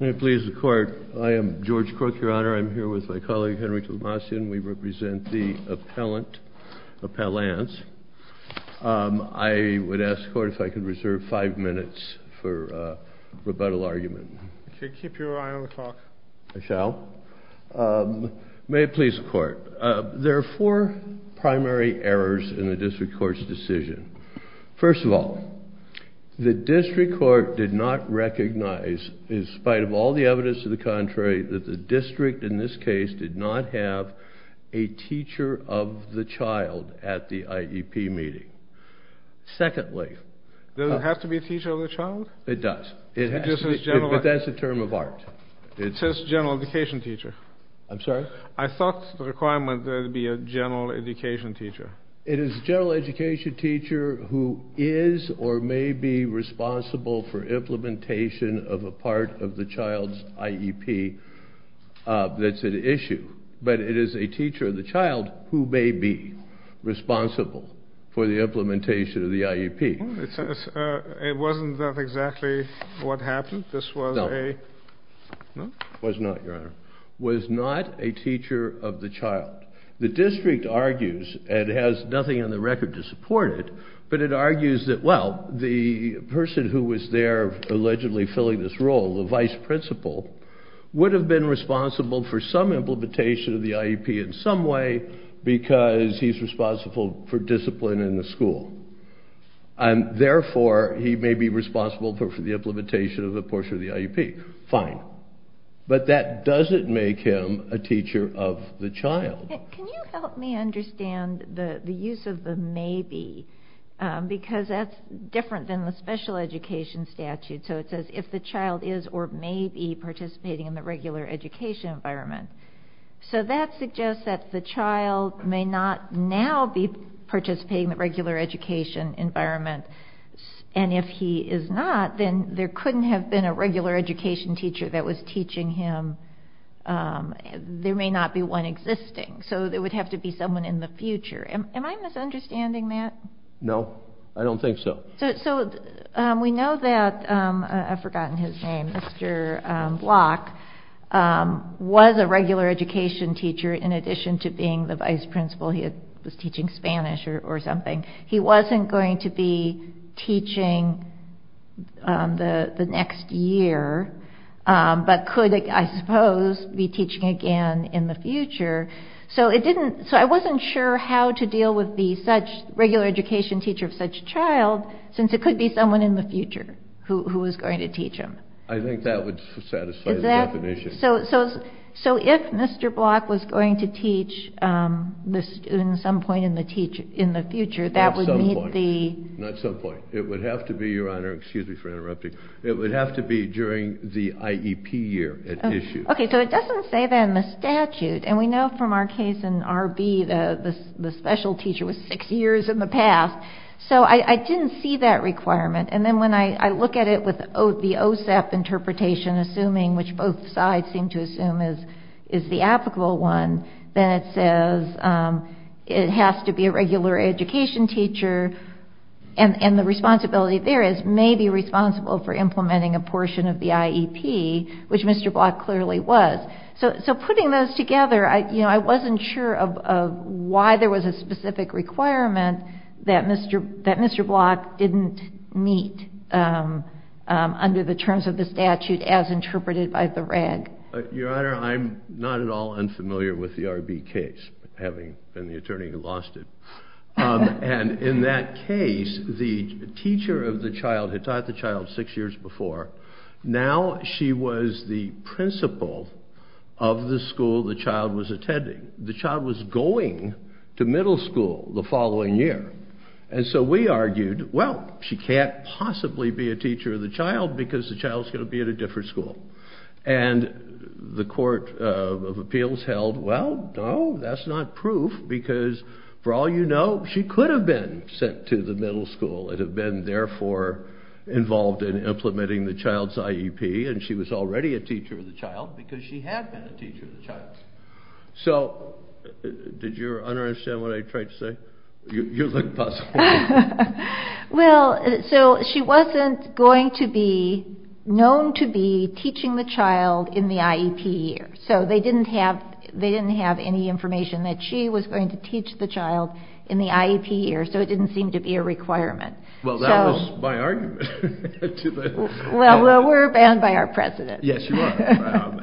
May it please the Court. I am George Crook, Your Honor. I'm here with my colleague Henry Tomasian. We represent the appellant, Appellants. I would ask the Court if I could reserve five minutes for rebuttal argument. Okay, keep your eye on the clock. I shall. May it please the Court. There are four primary errors in the District Court's decision. First of all, the District Court did not recognize, in spite of all the evidence to the contrary, that the District, in this case, did not have a teacher of the child at the IEP meeting. Secondly... Does it have to be a teacher of the child? It does. But that's a term of art. It says general education teacher. I'm sorry? I thought the requirement would be a general education teacher who is or may be responsible for implementation of a part of the child's IEP. That's an issue. But it is a teacher of the child who may be responsible for the implementation of the IEP. It wasn't exactly what happened. No. It was not, Your Honor. It was not a teacher of the child. The District argues, and has nothing on the record to support it, but it argues that, well, the person who was there allegedly filling this role, the vice-principal, would have been responsible for some implementation of the IEP in some way because he's responsible for discipline in the school. And therefore, he may be responsible for the implementation of a portion of the IEP. Fine. But that doesn't make him a teacher of the child. Can you help me understand the use of the maybe? Because that's different than the special education statute. So it says if the child is or may be participating in the regular education environment. So that suggests that the child may not now be participating in the regular education environment. He may not have been a regular education teacher that was teaching him. There may not be one existing. So there would have to be someone in the future. Am I misunderstanding that? No. I don't think so. So we know that, I've forgotten his name, Mr. Block was a regular education teacher in addition to being the vice-principal. He was teaching Spanish or something. He wasn't going to be teaching the next year, but could, I suppose, be teaching again in the future. So I wasn't sure how to deal with the regular education teacher of such a child since it could be someone in the future who was going to teach him. I think that would satisfy the definition. So if Mr. Block was going to teach in some point in the future, that would meet the... I'm sorry, Your Honor, excuse me for interrupting. It would have to be during the IEP year at issue. Okay. So it doesn't say that in the statute. And we know from our case in R.B., the special teacher was six years in the past. So I didn't see that requirement. And then when I look at it with the OSEP interpretation, assuming which both sides seem to assume is the applicable one, then it says it has to be a regular education teacher. And the responsibility there is maybe responsible for implementing a portion of the IEP, which Mr. Block clearly was. So putting those together, I wasn't sure of why there was a specific requirement that Mr. Block didn't meet under the terms of the statute as interpreted by the reg. Your Honor, I'm not at all unfamiliar with the R.B. case, having been the attorney who did it. And in that case, the teacher of the child had taught the child six years before. Now she was the principal of the school the child was attending. The child was going to middle school the following year. And so we argued, well, she can't possibly be a teacher of the child because the child's going to be at a different school. And the Court of Appellation said, well, you know, she could have been sent to the middle school and have been therefore involved in implementing the child's IEP. And she was already a teacher of the child because she had been a teacher of the child's. So did your Honor understand what I tried to say? You look puzzled. Well, so she wasn't going to be known to be teaching the child in the IEP year. So they didn't have any information that she was going to teach the child in the IEP year. So it didn't seem to be a requirement. Well, that was my argument. Well, we're banned by our president. Yes, you are.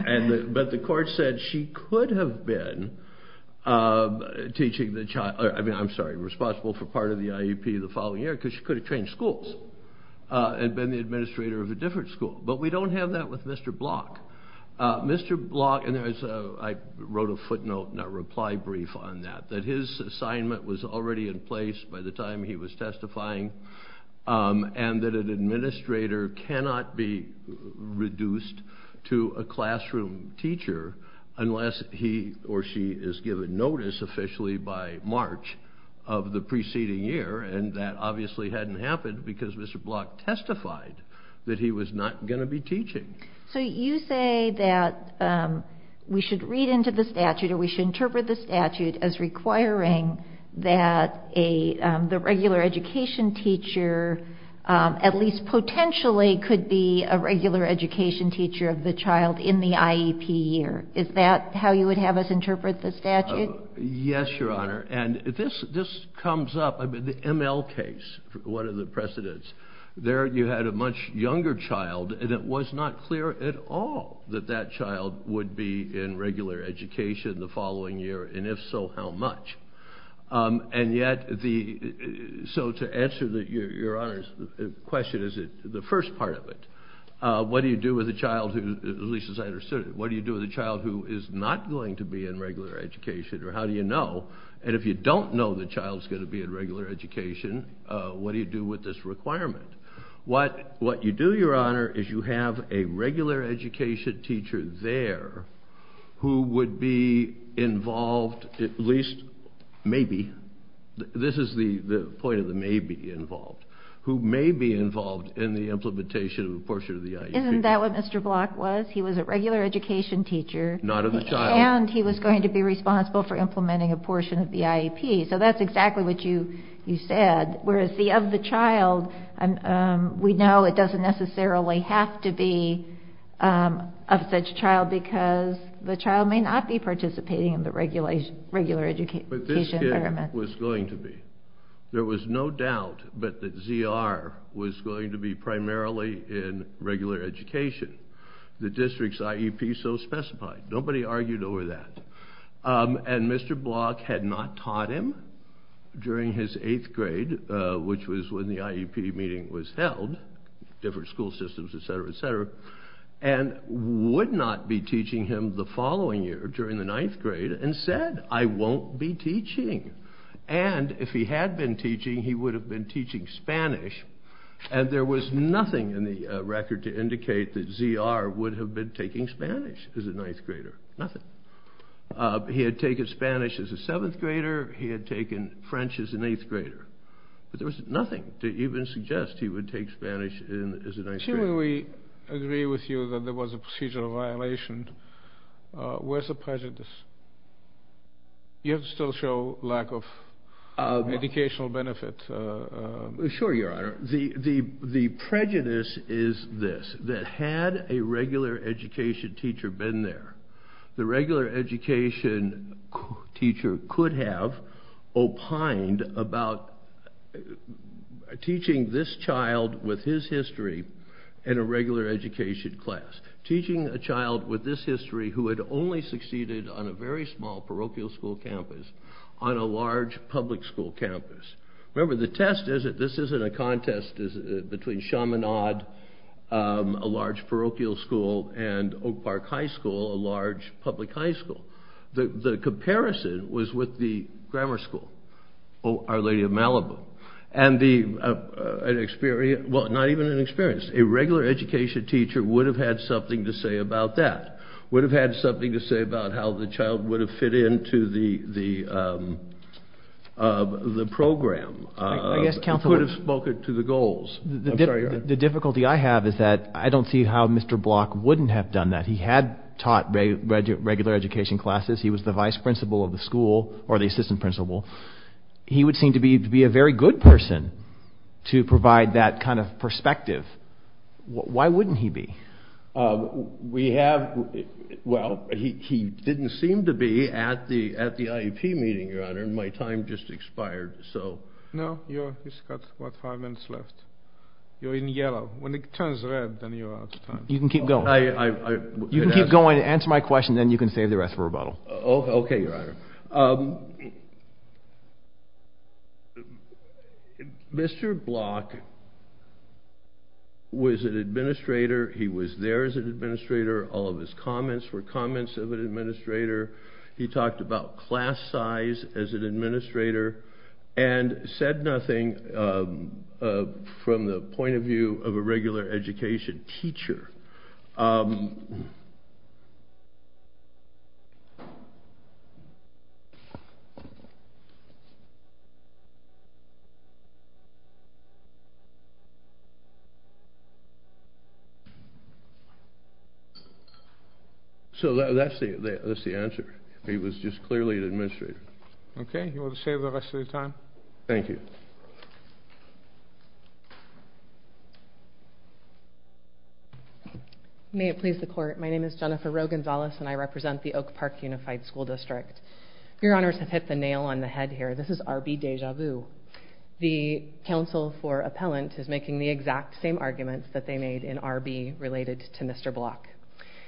But the Court said she could have been responsible for part of the IEP the following year because she could have trained schools and been the administrator of a different school. But we don't have that with Mr. Block. Mr. Block, and I wrote a footnote and a reply brief on that, that his assignment was already in place by the time he was testifying and that an administrator cannot be reduced to a classroom teacher unless he or she is given notice officially by March of the preceding year. And that obviously hadn't happened because Mr. Block testified that he was not going to be teaching. So you say that we should read into the statute or we should interpret the statute as requiring that the regular education teacher at least potentially could be a regular education teacher of the child in the IEP year. Is that how you would have us interpret the statute? Yes, Your Honor. And this comes up, the ML case, one of the precedents. There you had a much younger child and it was not clear at all that that child would be in regular education the following year, and if so, how much. And yet, so to answer Your Honor's question, is the first part of it. What do you do with a child who, at least as I understood it, what do you do with a child who is not going to be in regular education, or how do you know? And if you don't know the child's going to be in regular education, what do you do with this requirement? What you do, Your Honor, is you have a regular education teacher there who would be involved, at least maybe, this is the point of the maybe involved, who may be involved in the implementation of the portion of the IEP. Isn't that what Mr. Block was? He was a regular education teacher. Not of the child. And he was going to be responsible for implementing a portion of the IEP. So that's exactly what you said, whereas the of the child, we know it doesn't necessarily have to be of such child because the child may not be participating in the regular education environment. But this kid was going to be. There was no doubt that the ZR was going to be primarily in regular education. The district's IEP so specified. Nobody argued over that. And Mr. Block had not taught him during his eighth grade, which was when the IEP meeting was held, different school systems, etc., etc., and would not be teaching him the following year during the ninth grade and said, I won't be teaching. And if he had been teaching, he would have been teaching Spanish. And there was nothing in the record to indicate that ZR would have been taking Spanish as a ninth grader. Nothing. He had taken Spanish as a seventh grader. He had taken French as an eighth grader. But there was nothing to even suggest he would take Spanish as a ninth grader. Assuming we agree with you that there was a procedural violation, where's the prejudice? You have to still show lack of educational benefit. Sure, Your Honor. The prejudice is this, that had a regular education teacher been there, the regular education teacher could have opined about teaching this child with his history in a regular education class. Teaching a child with this history who had only succeeded on a very small parochial school campus on a large public school campus. Remember the test is that this isn't a contest between Chaminade, a large parochial school, and Oak Park High School, a large public high school. The comparison was with the grammar school, Our Lady of Malibu. And the experience, well not even an experience, a regular education teacher would have had something to say about that. Would have had something to say about how the child would have fit into the program. He could have spoken to the goals. The difficulty I have is that I don't see how Mr. Block wouldn't have done that. He had taught regular education classes. He was the vice principal of the school, or the assistant principal. He would seem to be a very good person to provide that kind of perspective. Why wouldn't he be? We have, well he didn't seem to be at the IEP meeting, your honor. My time just expired. No, you've got about five minutes left. You're in yellow. When it turns red, then you're out of time. You can keep going. I, I, I. You can keep going, answer my question, then you can save the rest for rebuttal. Okay, your honor. Um, Mr. Block was an administrator. He was there as an administrator. All of his comments were comments of an administrator. He talked about class size as an administrator, and said nothing from the point of view of a regular education teacher. So, that's the, that's the answer. He was just clearly an administrator. Okay, you want to save the rest of your time? Thank you. May it please the court, my name is Jennifer Rowe-Gonzalez, and I represent the Oak Park Unified School District. Your honors have hit the nail on the head here. This is R.B. Deja Vu. The counsel for appellant is making the exact same arguments that they made in R.B. related to Mr. Block.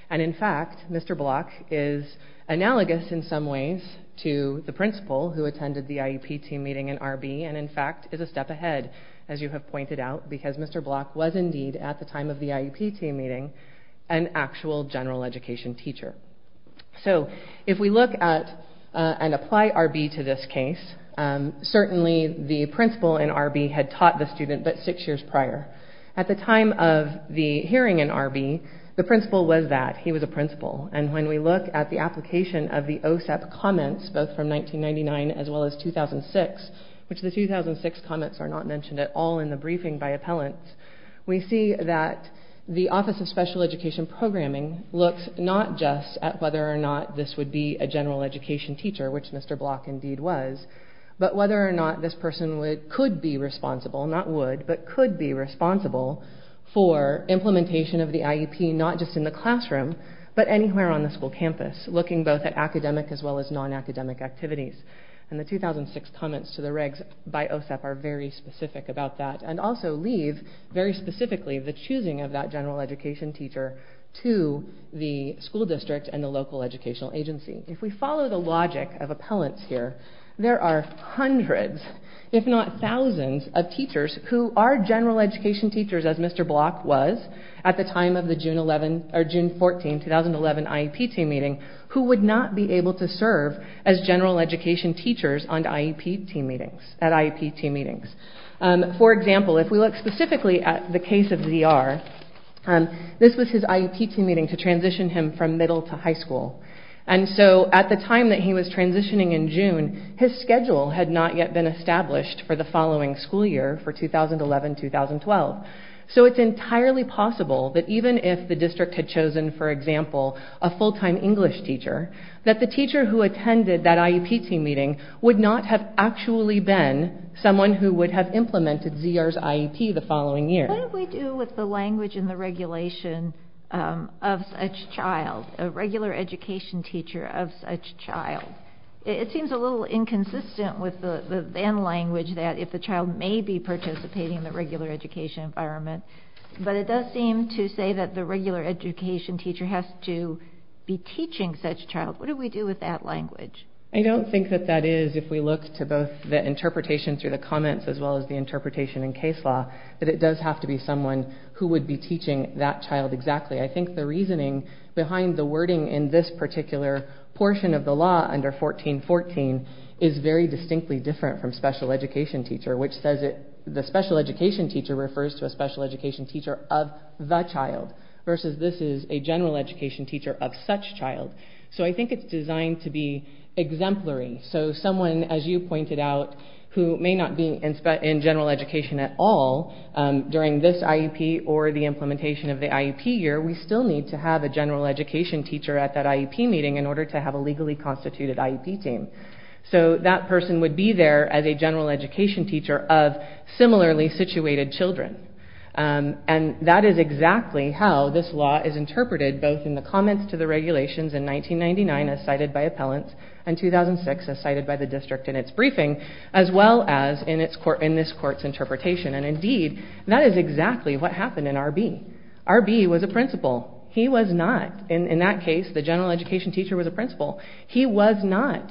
And in fact, Mr. Block is analogous in some ways to the principal who attended the IEP team meeting in R.B., and in fact is a step ahead, as you have pointed out, because Mr. Block was indeed, at the time of the IEP team meeting, an actual general education teacher. So, if we look at and apply R.B. to this case, certainly the principal in R.B. had taught the student, but six years prior. At the time of the hearing in R.B., the principal was that. He was a principal. And when we look at the application of the OSEP comments, both from 1999 as well as 2006, which the 2006 comments are not mentioned at all in the briefing by appellants, we see that the Office of Special Education Programming looks not just at whether or not this would be a general education teacher, which Mr. Block indeed was, but whether or not this person could be responsible, not would, but could be responsible for implementation of the IEP, not just in the classroom, but anywhere on the school campus, looking both at academic as well as non-academic activities. And the 2006 comments to the regs by OSEP are very specific about that, and also leave very specifically the choosing of that general education teacher to the school district and the local educational agency. If we follow the logic of appellants here, there are hundreds, if not thousands, of teachers who are general education teachers, as Mr. Block was at the time of the June 14, 2011 IEP team meeting, who would not be able to serve as general education teachers at IEP team meetings. For example, if we look specifically at the case of Z.R., this was his IEP team meeting to transition him from middle to high school. And so at the time that he was transitioning in June, his schedule had not yet been established for the following school year, for 2011-2012. So it's entirely possible that even if the district had chosen, for example, a full-time English teacher, that the teacher who attended that IEP team meeting would not have actually been someone who would have implemented Z.R.'s IEP the following year. What do we do with the language and the regulation of such child, a regular education teacher of such child? It seems a little inconsistent with the then language that if the child may be participating in the regular education environment, but it does seem to say that the regular education teacher has to be teaching such child. What do we do with that language? I don't think that that is, if we look to both the interpretation through the comments as well as the interpretation in case law, that it does have to be someone who would be teaching that child exactly. I think the reasoning behind the wording in this particular portion of the law under 1414 is very distinctly different from special education teacher, which says the special education teacher refers to a special education teacher of the child versus this is a general education teacher of such child. So I think it's designed to be exemplary. So someone, as you pointed out, who may not be in general education at all during this IEP or the implementation of the IEP year, we still need to have a general education teacher at that IEP meeting in order to have a legally constituted IEP team. So that person would be there as a general education teacher of similarly situated children. And that is exactly how this law is interpreted both in the comments to the regulations in 2006 as cited by the district in its briefing, as well as in this court's interpretation. And indeed, that is exactly what happened in RB. RB was a principal. He was not, in that case, the general education teacher was a principal. He was not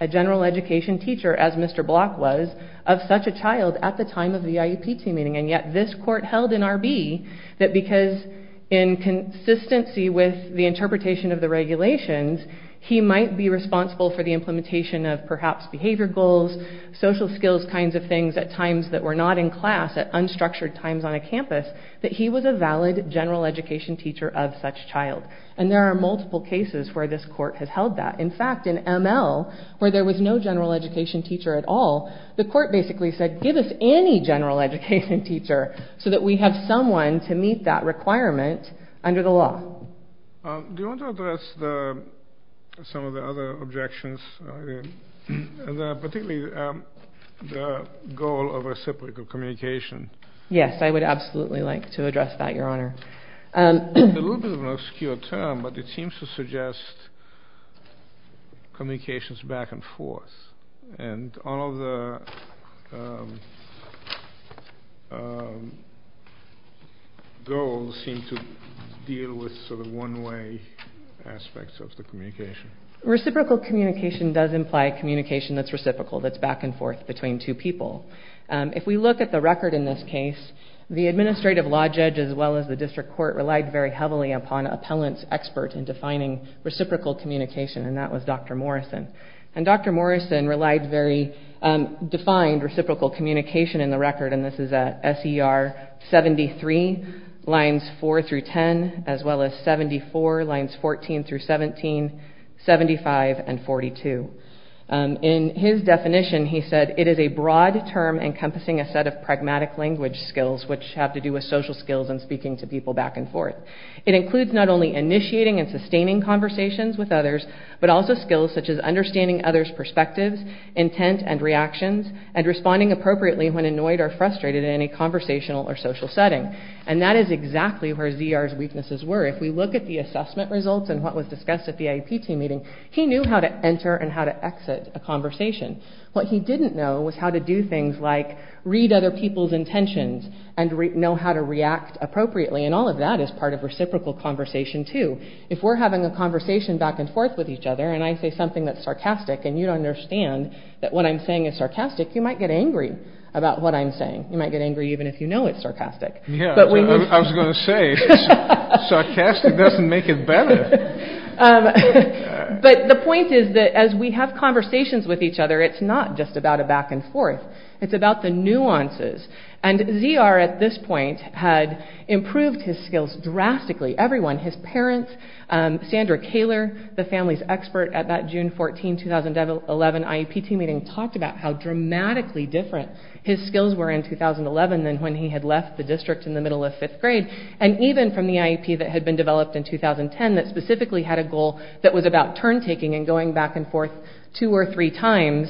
a general education teacher as Mr. Block was of such a child at the time of the IEP team meeting. And yet this court held in RB that because in consistency with the interpretation of the regulations, he might be responsible for the implementation of perhaps behavior goals, social skills kinds of things at times that were not in class, at unstructured times on a campus, that he was a valid general education teacher of such child. And there are multiple cases where this court has held that. In fact, in ML, where there was no general education teacher at all, the court basically said, give us any general education teacher so that we have someone to meet that requirement under the law. Do you want to address some of the other objections, particularly the goal of reciprocal communication? Yes, I would absolutely like to address that, Your Honor. It's a little bit of an obscure term, but it seems to suggest communications back and forth. Do the goals seem to deal with sort of one-way aspects of the communication? Reciprocal communication does imply communication that's reciprocal, that's back and forth between two people. If we look at the record in this case, the administrative law judge as well as the district court relied very heavily upon an appellant's expert in defining reciprocal communication, and that was Dr. Morrison. And Dr. Morrison relied very, defined reciprocal communication in the record, and this is at SER 73, lines 4 through 10, as well as 74, lines 14 through 17, 75, and 42. In his definition, he said, it is a broad term encompassing a set of pragmatic language skills, which have to do with social skills and speaking to people back and forth. It includes not only initiating and sustaining conversations with others, but also skills such as understanding others' perspectives, intent, and reactions, and responding appropriately when annoyed or frustrated in any conversational or social setting. And that is exactly where Z.R.'s weaknesses were. If we look at the assessment results and what was discussed at the IEP team meeting, he knew how to enter and how to exit a conversation. What he didn't know was how to do things like read other people's intentions and know how to react appropriately, and all of that is part of reciprocal conversation too. If we're having a conversation back and forth with each other, and I say something that's sarcastic and you don't understand that what I'm saying is sarcastic, you might get angry about what I'm saying. You might get angry even if you know it's sarcastic. Yeah, I was going to say, sarcastic doesn't make it better. But the point is that as we have conversations with each other, it's not just about a back and forth. It's about the nuances. And Z.R. at this point had improved his skills drastically. His parents, Sandra Kaler, the family's expert at that June 14, 2011 IEP team meeting talked about how dramatically different his skills were in 2011 than when he had left the district in the middle of fifth grade. And even from the IEP that had been developed in 2010 that specifically had a goal that was about turn taking and going back and forth two or three times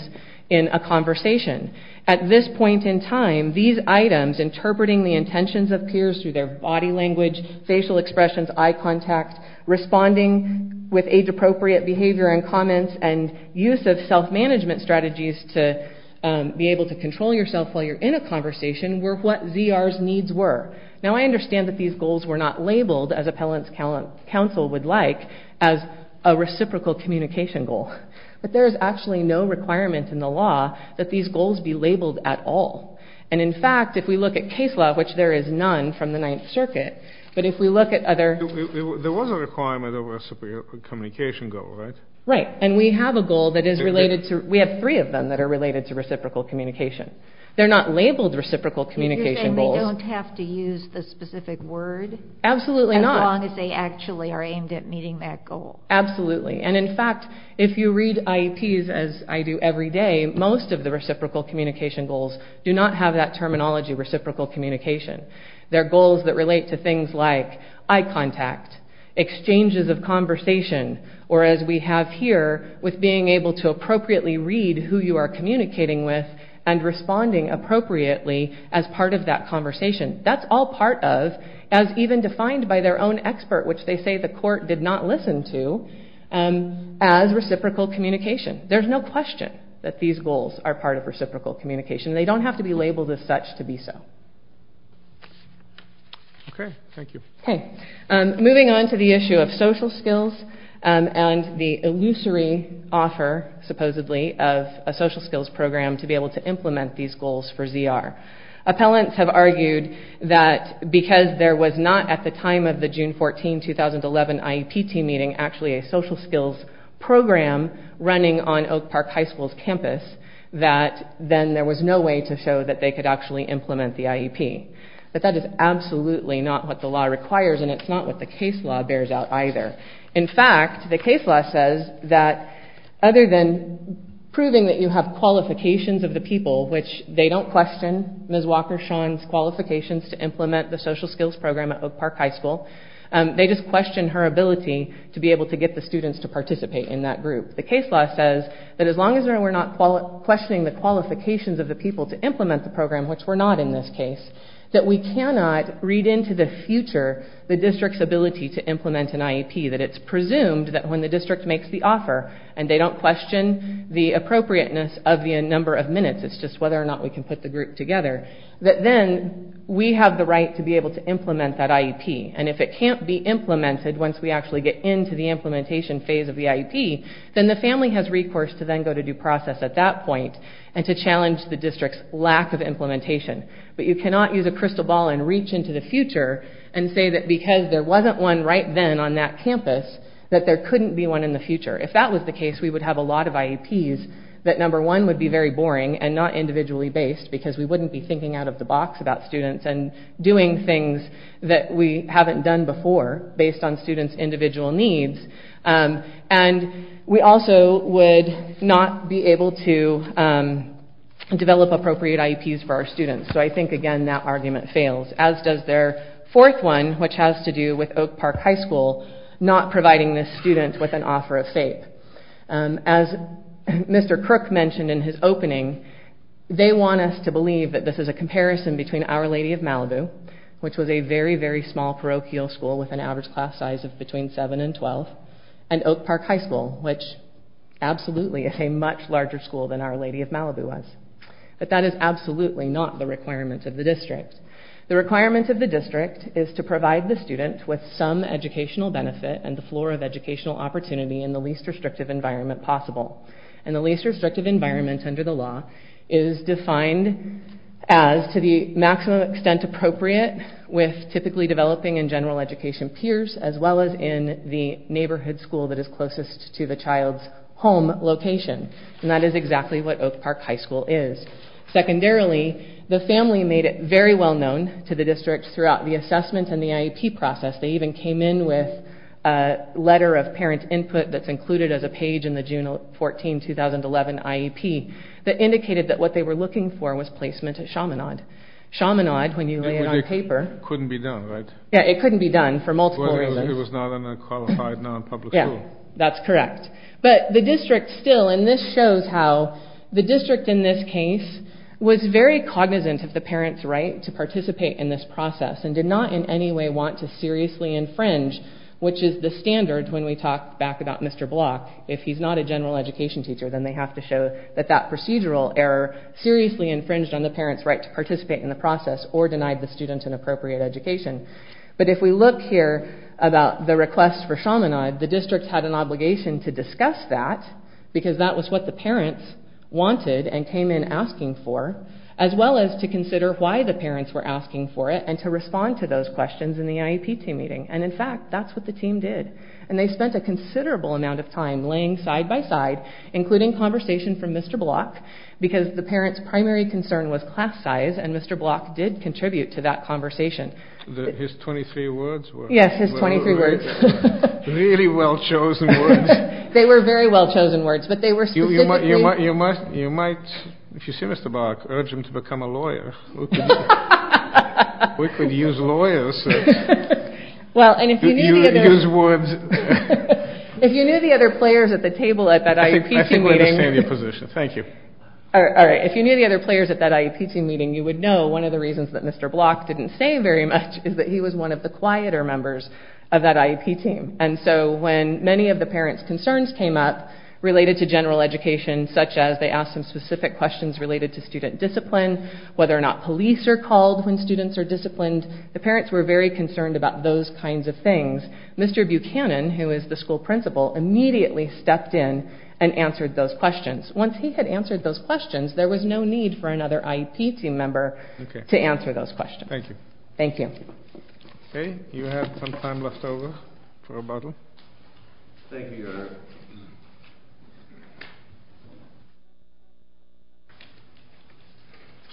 in a conversation. At this point in time, these items, interpreting the intentions of peers through their body language, facial expressions, eye contact, responding with age-appropriate behavior and comments, and use of self-management strategies to be able to control yourself while you're in a conversation were what Z.R.'s needs were. Now I understand that these goals were not labeled, as appellants counsel would like, as a reciprocal communication goal. But there is actually no requirement in the law that these goals be labeled at all. And in fact, if we look at case law, which there is none from the Ninth Circuit, but if we look at other... There was a requirement of a reciprocal communication goal, right? Right. And we have a goal that is related to... We have three of them that are related to reciprocal communication. They're not labeled reciprocal communication goals. You're saying they don't have to use the specific word? Absolutely not. As long as they actually are aimed at meeting that goal. Absolutely. And in fact, if you read IEPs, as I do every day, most of the reciprocal communication goals do not have that terminology, reciprocal communication. They're goals that relate to things like eye contact, exchanges of conversation, or as we have here, with being able to appropriately read who you are communicating with and responding appropriately as part of that conversation. That's all part of, as even defined by their own expert, which they say the court did not listen to, as reciprocal communication. There's no question that these goals are part of reciprocal communication. They don't have to be labeled as such to be so. Okay. Thank you. Okay. Moving on to the issue of social skills and the illusory offer, supposedly, of a social skills program to be able to implement these goals for ZR. Appellants have argued that because there was not, at the time of the June 14, 2011 IEP team meeting, actually a social skills program running on Oak Park High School's campus, that then there was no way to show that they could actually implement the IEP. But that is absolutely not what the law requires, and it's not what the case law bears out either. In fact, the case law says that other than proving that you have qualifications of the people, which they don't question Ms. Walker-Shawn's qualifications to implement the social skills program at Oak Park High School, they just question her ability to be able to get the students to participate in that group. The case law says that as long as we're not questioning the qualifications of the people to implement the program, which we're not in this case, that we cannot read into the future the district's ability to implement an IEP, that it's presumed that when the district makes the offer, and they don't question the appropriateness of the number of minutes, it's just whether or not we can put the group together, that then we have the right to be able to implement that IEP. And if it can't be implemented once we actually get into the implementation phase of the IEP, then the family has recourse to then go to due process at that point and to challenge the district's lack of implementation. But you cannot use a crystal ball and reach into the future and say that because there wasn't one right then on that campus, that there couldn't be one in the future. If that was the case, we would have a lot of IEPs that, number one, would be very boring and not individually based because we wouldn't be thinking out of the box about students and doing things that we haven't done before based on students' individual needs. And we also would not be able to develop appropriate IEPs for our students. So I think, again, that argument fails, as does their fourth one, which has to do with Oak Park High School not providing this student with an offer of FAPE. As Mr. Crook mentioned in his opening, they want us to believe that this is a comparison between Our Lady of Malibu, which was a very, very small parochial school with an average class size of between 7 and 12, and Oak Park High School, which absolutely is a much larger school than Our Lady of Malibu was. But that is absolutely not the requirement of the district. The requirement of the district is to provide the student with some educational benefit and the floor of educational opportunity in the least restrictive environment possible. And the least restrictive environment under the law is defined as to the maximum extent appropriate with typically developing and general education peers, as well as in the neighborhood school that is closest to the child's home location. And that is exactly what Oak Park High School is. Secondarily, the family made it very well-known to the district throughout the assessment and the IEP process. They even came in with a letter of parent input that's included as a page in the June 14, 2011 IEP that indicated that what they were looking for was placement at Chaminade. Chaminade, when you lay it on paper... It couldn't be done, right? Yeah, it couldn't be done for multiple reasons. It was not a qualified, non-public school. That's correct. But the district still, and this shows how the district in this case was very cognizant of the parent's right to participate in this process and did not in any way want to seriously infringe, which is the standard when we talk back about Mr. Block. If he's not a general education teacher, then they have to show that that procedural error seriously infringed on the parent's right to participate in the process or denied the student an appropriate education. But if we look here about the request for Chaminade, the district had an obligation to discuss that because that was what the parents wanted and came in asking for, as well as to consider why the parents were asking for it and to respond to those questions in the IEP team meeting. And in fact, that's what the team did. And they spent a considerable amount of time laying side-by-side, including conversation from Mr. Block, because the parents' primary concern was class size, and Mr. Block did contribute to that conversation. His 23 words were... Yes, his 23 words. Really well-chosen words. They were very well-chosen words, but they were specifically... You might, if you see Mr. Block, urge him to become a lawyer. We could use lawyers. Well, and if you knew the other... Use words. If you knew the other players at the table at that IEP team meeting... I think I understand your position. Thank you. All right. If you knew the other players at that IEP team meeting, you would know one of the reasons that Mr. Block didn't say very much is that he was one of the quieter members of that IEP team. And so when many of the parents' concerns came up related to general education, such as they asked some specific questions related to student discipline, whether or not police are called when students are disciplined, the parents were very concerned about those kinds of things. Mr. Buchanan, who is the Once he had answered those questions, there was no need for another IEP team member to answer those questions. Thank you. Thank you. Okay. You have some time left over for a bottle. Thank you, Your Honor.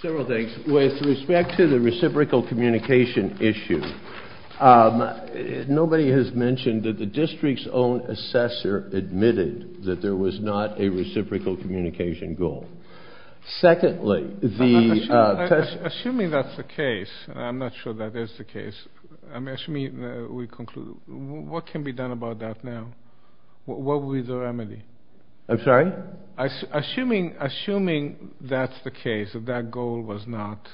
Several things. With respect to the reciprocal communication issue, nobody has mentioned that the district's own assessor admitted that there was not a reciprocal communication goal. Secondly, the... Assuming that's the case, and I'm not sure that is the case, what can be done about that now? What would be the remedy? I'm sorry? Assuming that's the case, that that goal was not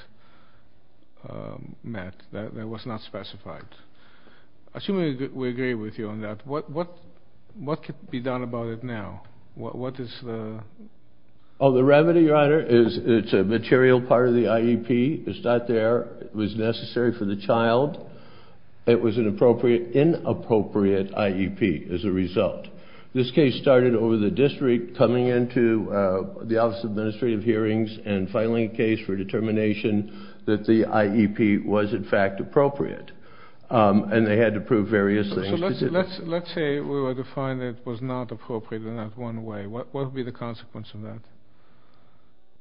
met, that it was not specified. Assuming we agree with you on that, what could be done about it now? What is the... Oh, the remedy, Your Honor, is it's a material part of the IEP. It's not there. It was necessary for the child. It was an appropriate... Inappropriate IEP as a result. This case started over the district coming into the Office of Administrative Hearings and filing a case for determination that the Let's say we were to find that it was not appropriate in that one way. What would be the consequence of that?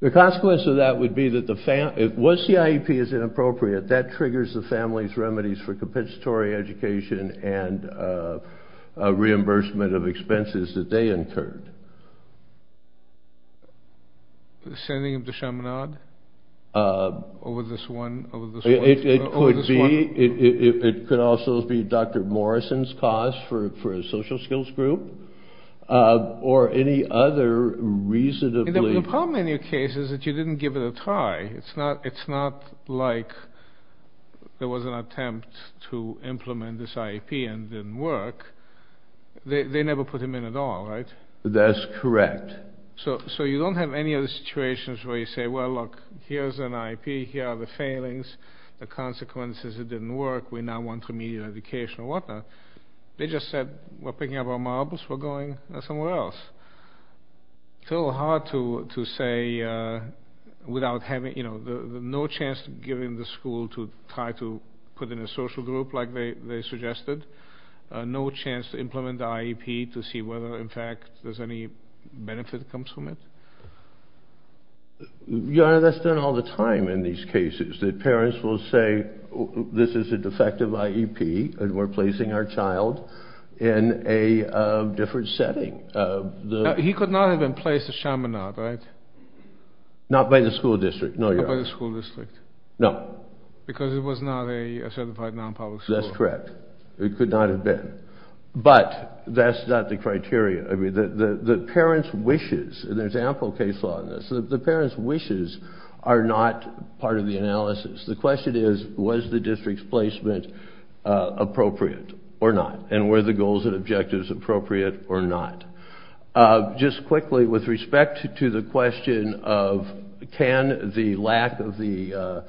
The consequence of that would be that the... Was the IEP as inappropriate, that triggers the family's remedies for compensatory education and reimbursement of expenses that they incurred. The sending of the shamanad? Or was this one... It could be. It could also be Dr. Morrison's cause for a social skills group or any other reasonably... The problem in your case is that you didn't give it a try. It's not like there was an attempt to implement this IEP and it didn't work. They never put him in at all, right? That's correct. So you don't have any other situations where you say, well, look, here's an IEP, here are the failings, the consequences, it didn't work, we now want remedial education or whatnot. They just said, we're picking up our marbles, we're going somewhere else. It's a little hard to say without having... No chance to give him the school to try to put in a social group like they suggested. No chance to implement the IEP to see whether in fact there's any benefit that comes from it? Your Honor, that's done all the time in these cases. The parents will say, this is a defective IEP and we're placing our child in a different setting. He could not have been placed as shamanad, right? Not by the school district, no, Your Honor. Not by the school district. No. Because it was not a certified non-public school. That's correct. It could not have been. But that's not the criteria. I mean, the parents' wishes, and there's ample case law in this, the parents' wishes are not part of the analysis. The question is, was the district's placement appropriate or not? And were the goals and objectives appropriate or not? Just quickly, with respect to the question of can the lack of the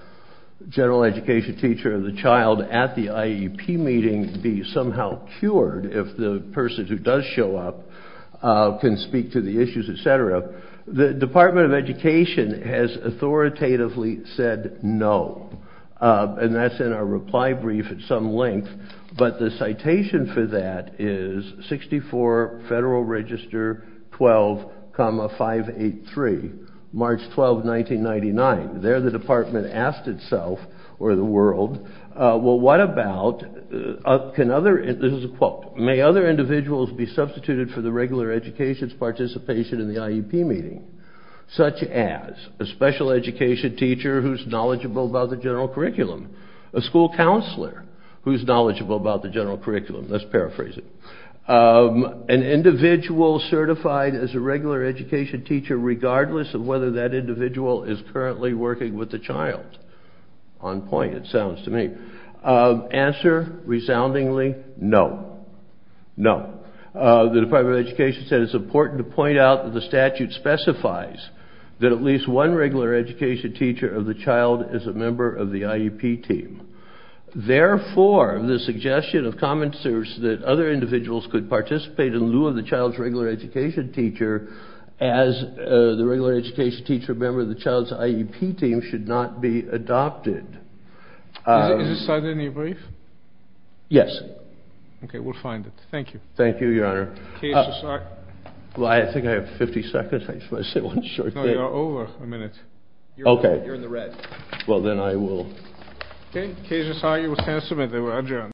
general education teacher of the child at the IEP meeting be somehow cured if the person who does show up can speak to the issues, et cetera, the Department of Education has authoritatively said no. And that's in our reply brief at some length. But the citation for that is 64 Federal Register 12, 583, March 12, 1999. They're the people who are going to make sure that the Department asked itself, or the world, well, what about, can other, this is a quote, may other individuals be substituted for the regular education's participation in the IEP meeting, such as a special education teacher who's knowledgeable about the general curriculum, a school counselor who's knowledgeable about the general curriculum, let's paraphrase it, an individual certified as a regular education teacher regardless of whether that individual is currently working with the child. On point, it sounds to me. Answer, resoundingly, no. No. The Department of Education said it's important to point out that the statute specifies that at least one regular education teacher of the child is a member of the IEP team. Therefore, the suggestion of common sense that other individuals could participate in the IEP meeting should not be adopted. Is this cited in your brief? Yes. Okay, we'll find it. Thank you. Thank you, Your Honor. I think I have 50 seconds. I just want to say one short thing. No, you're over a minute. Okay. You're in the red. Well, then I will.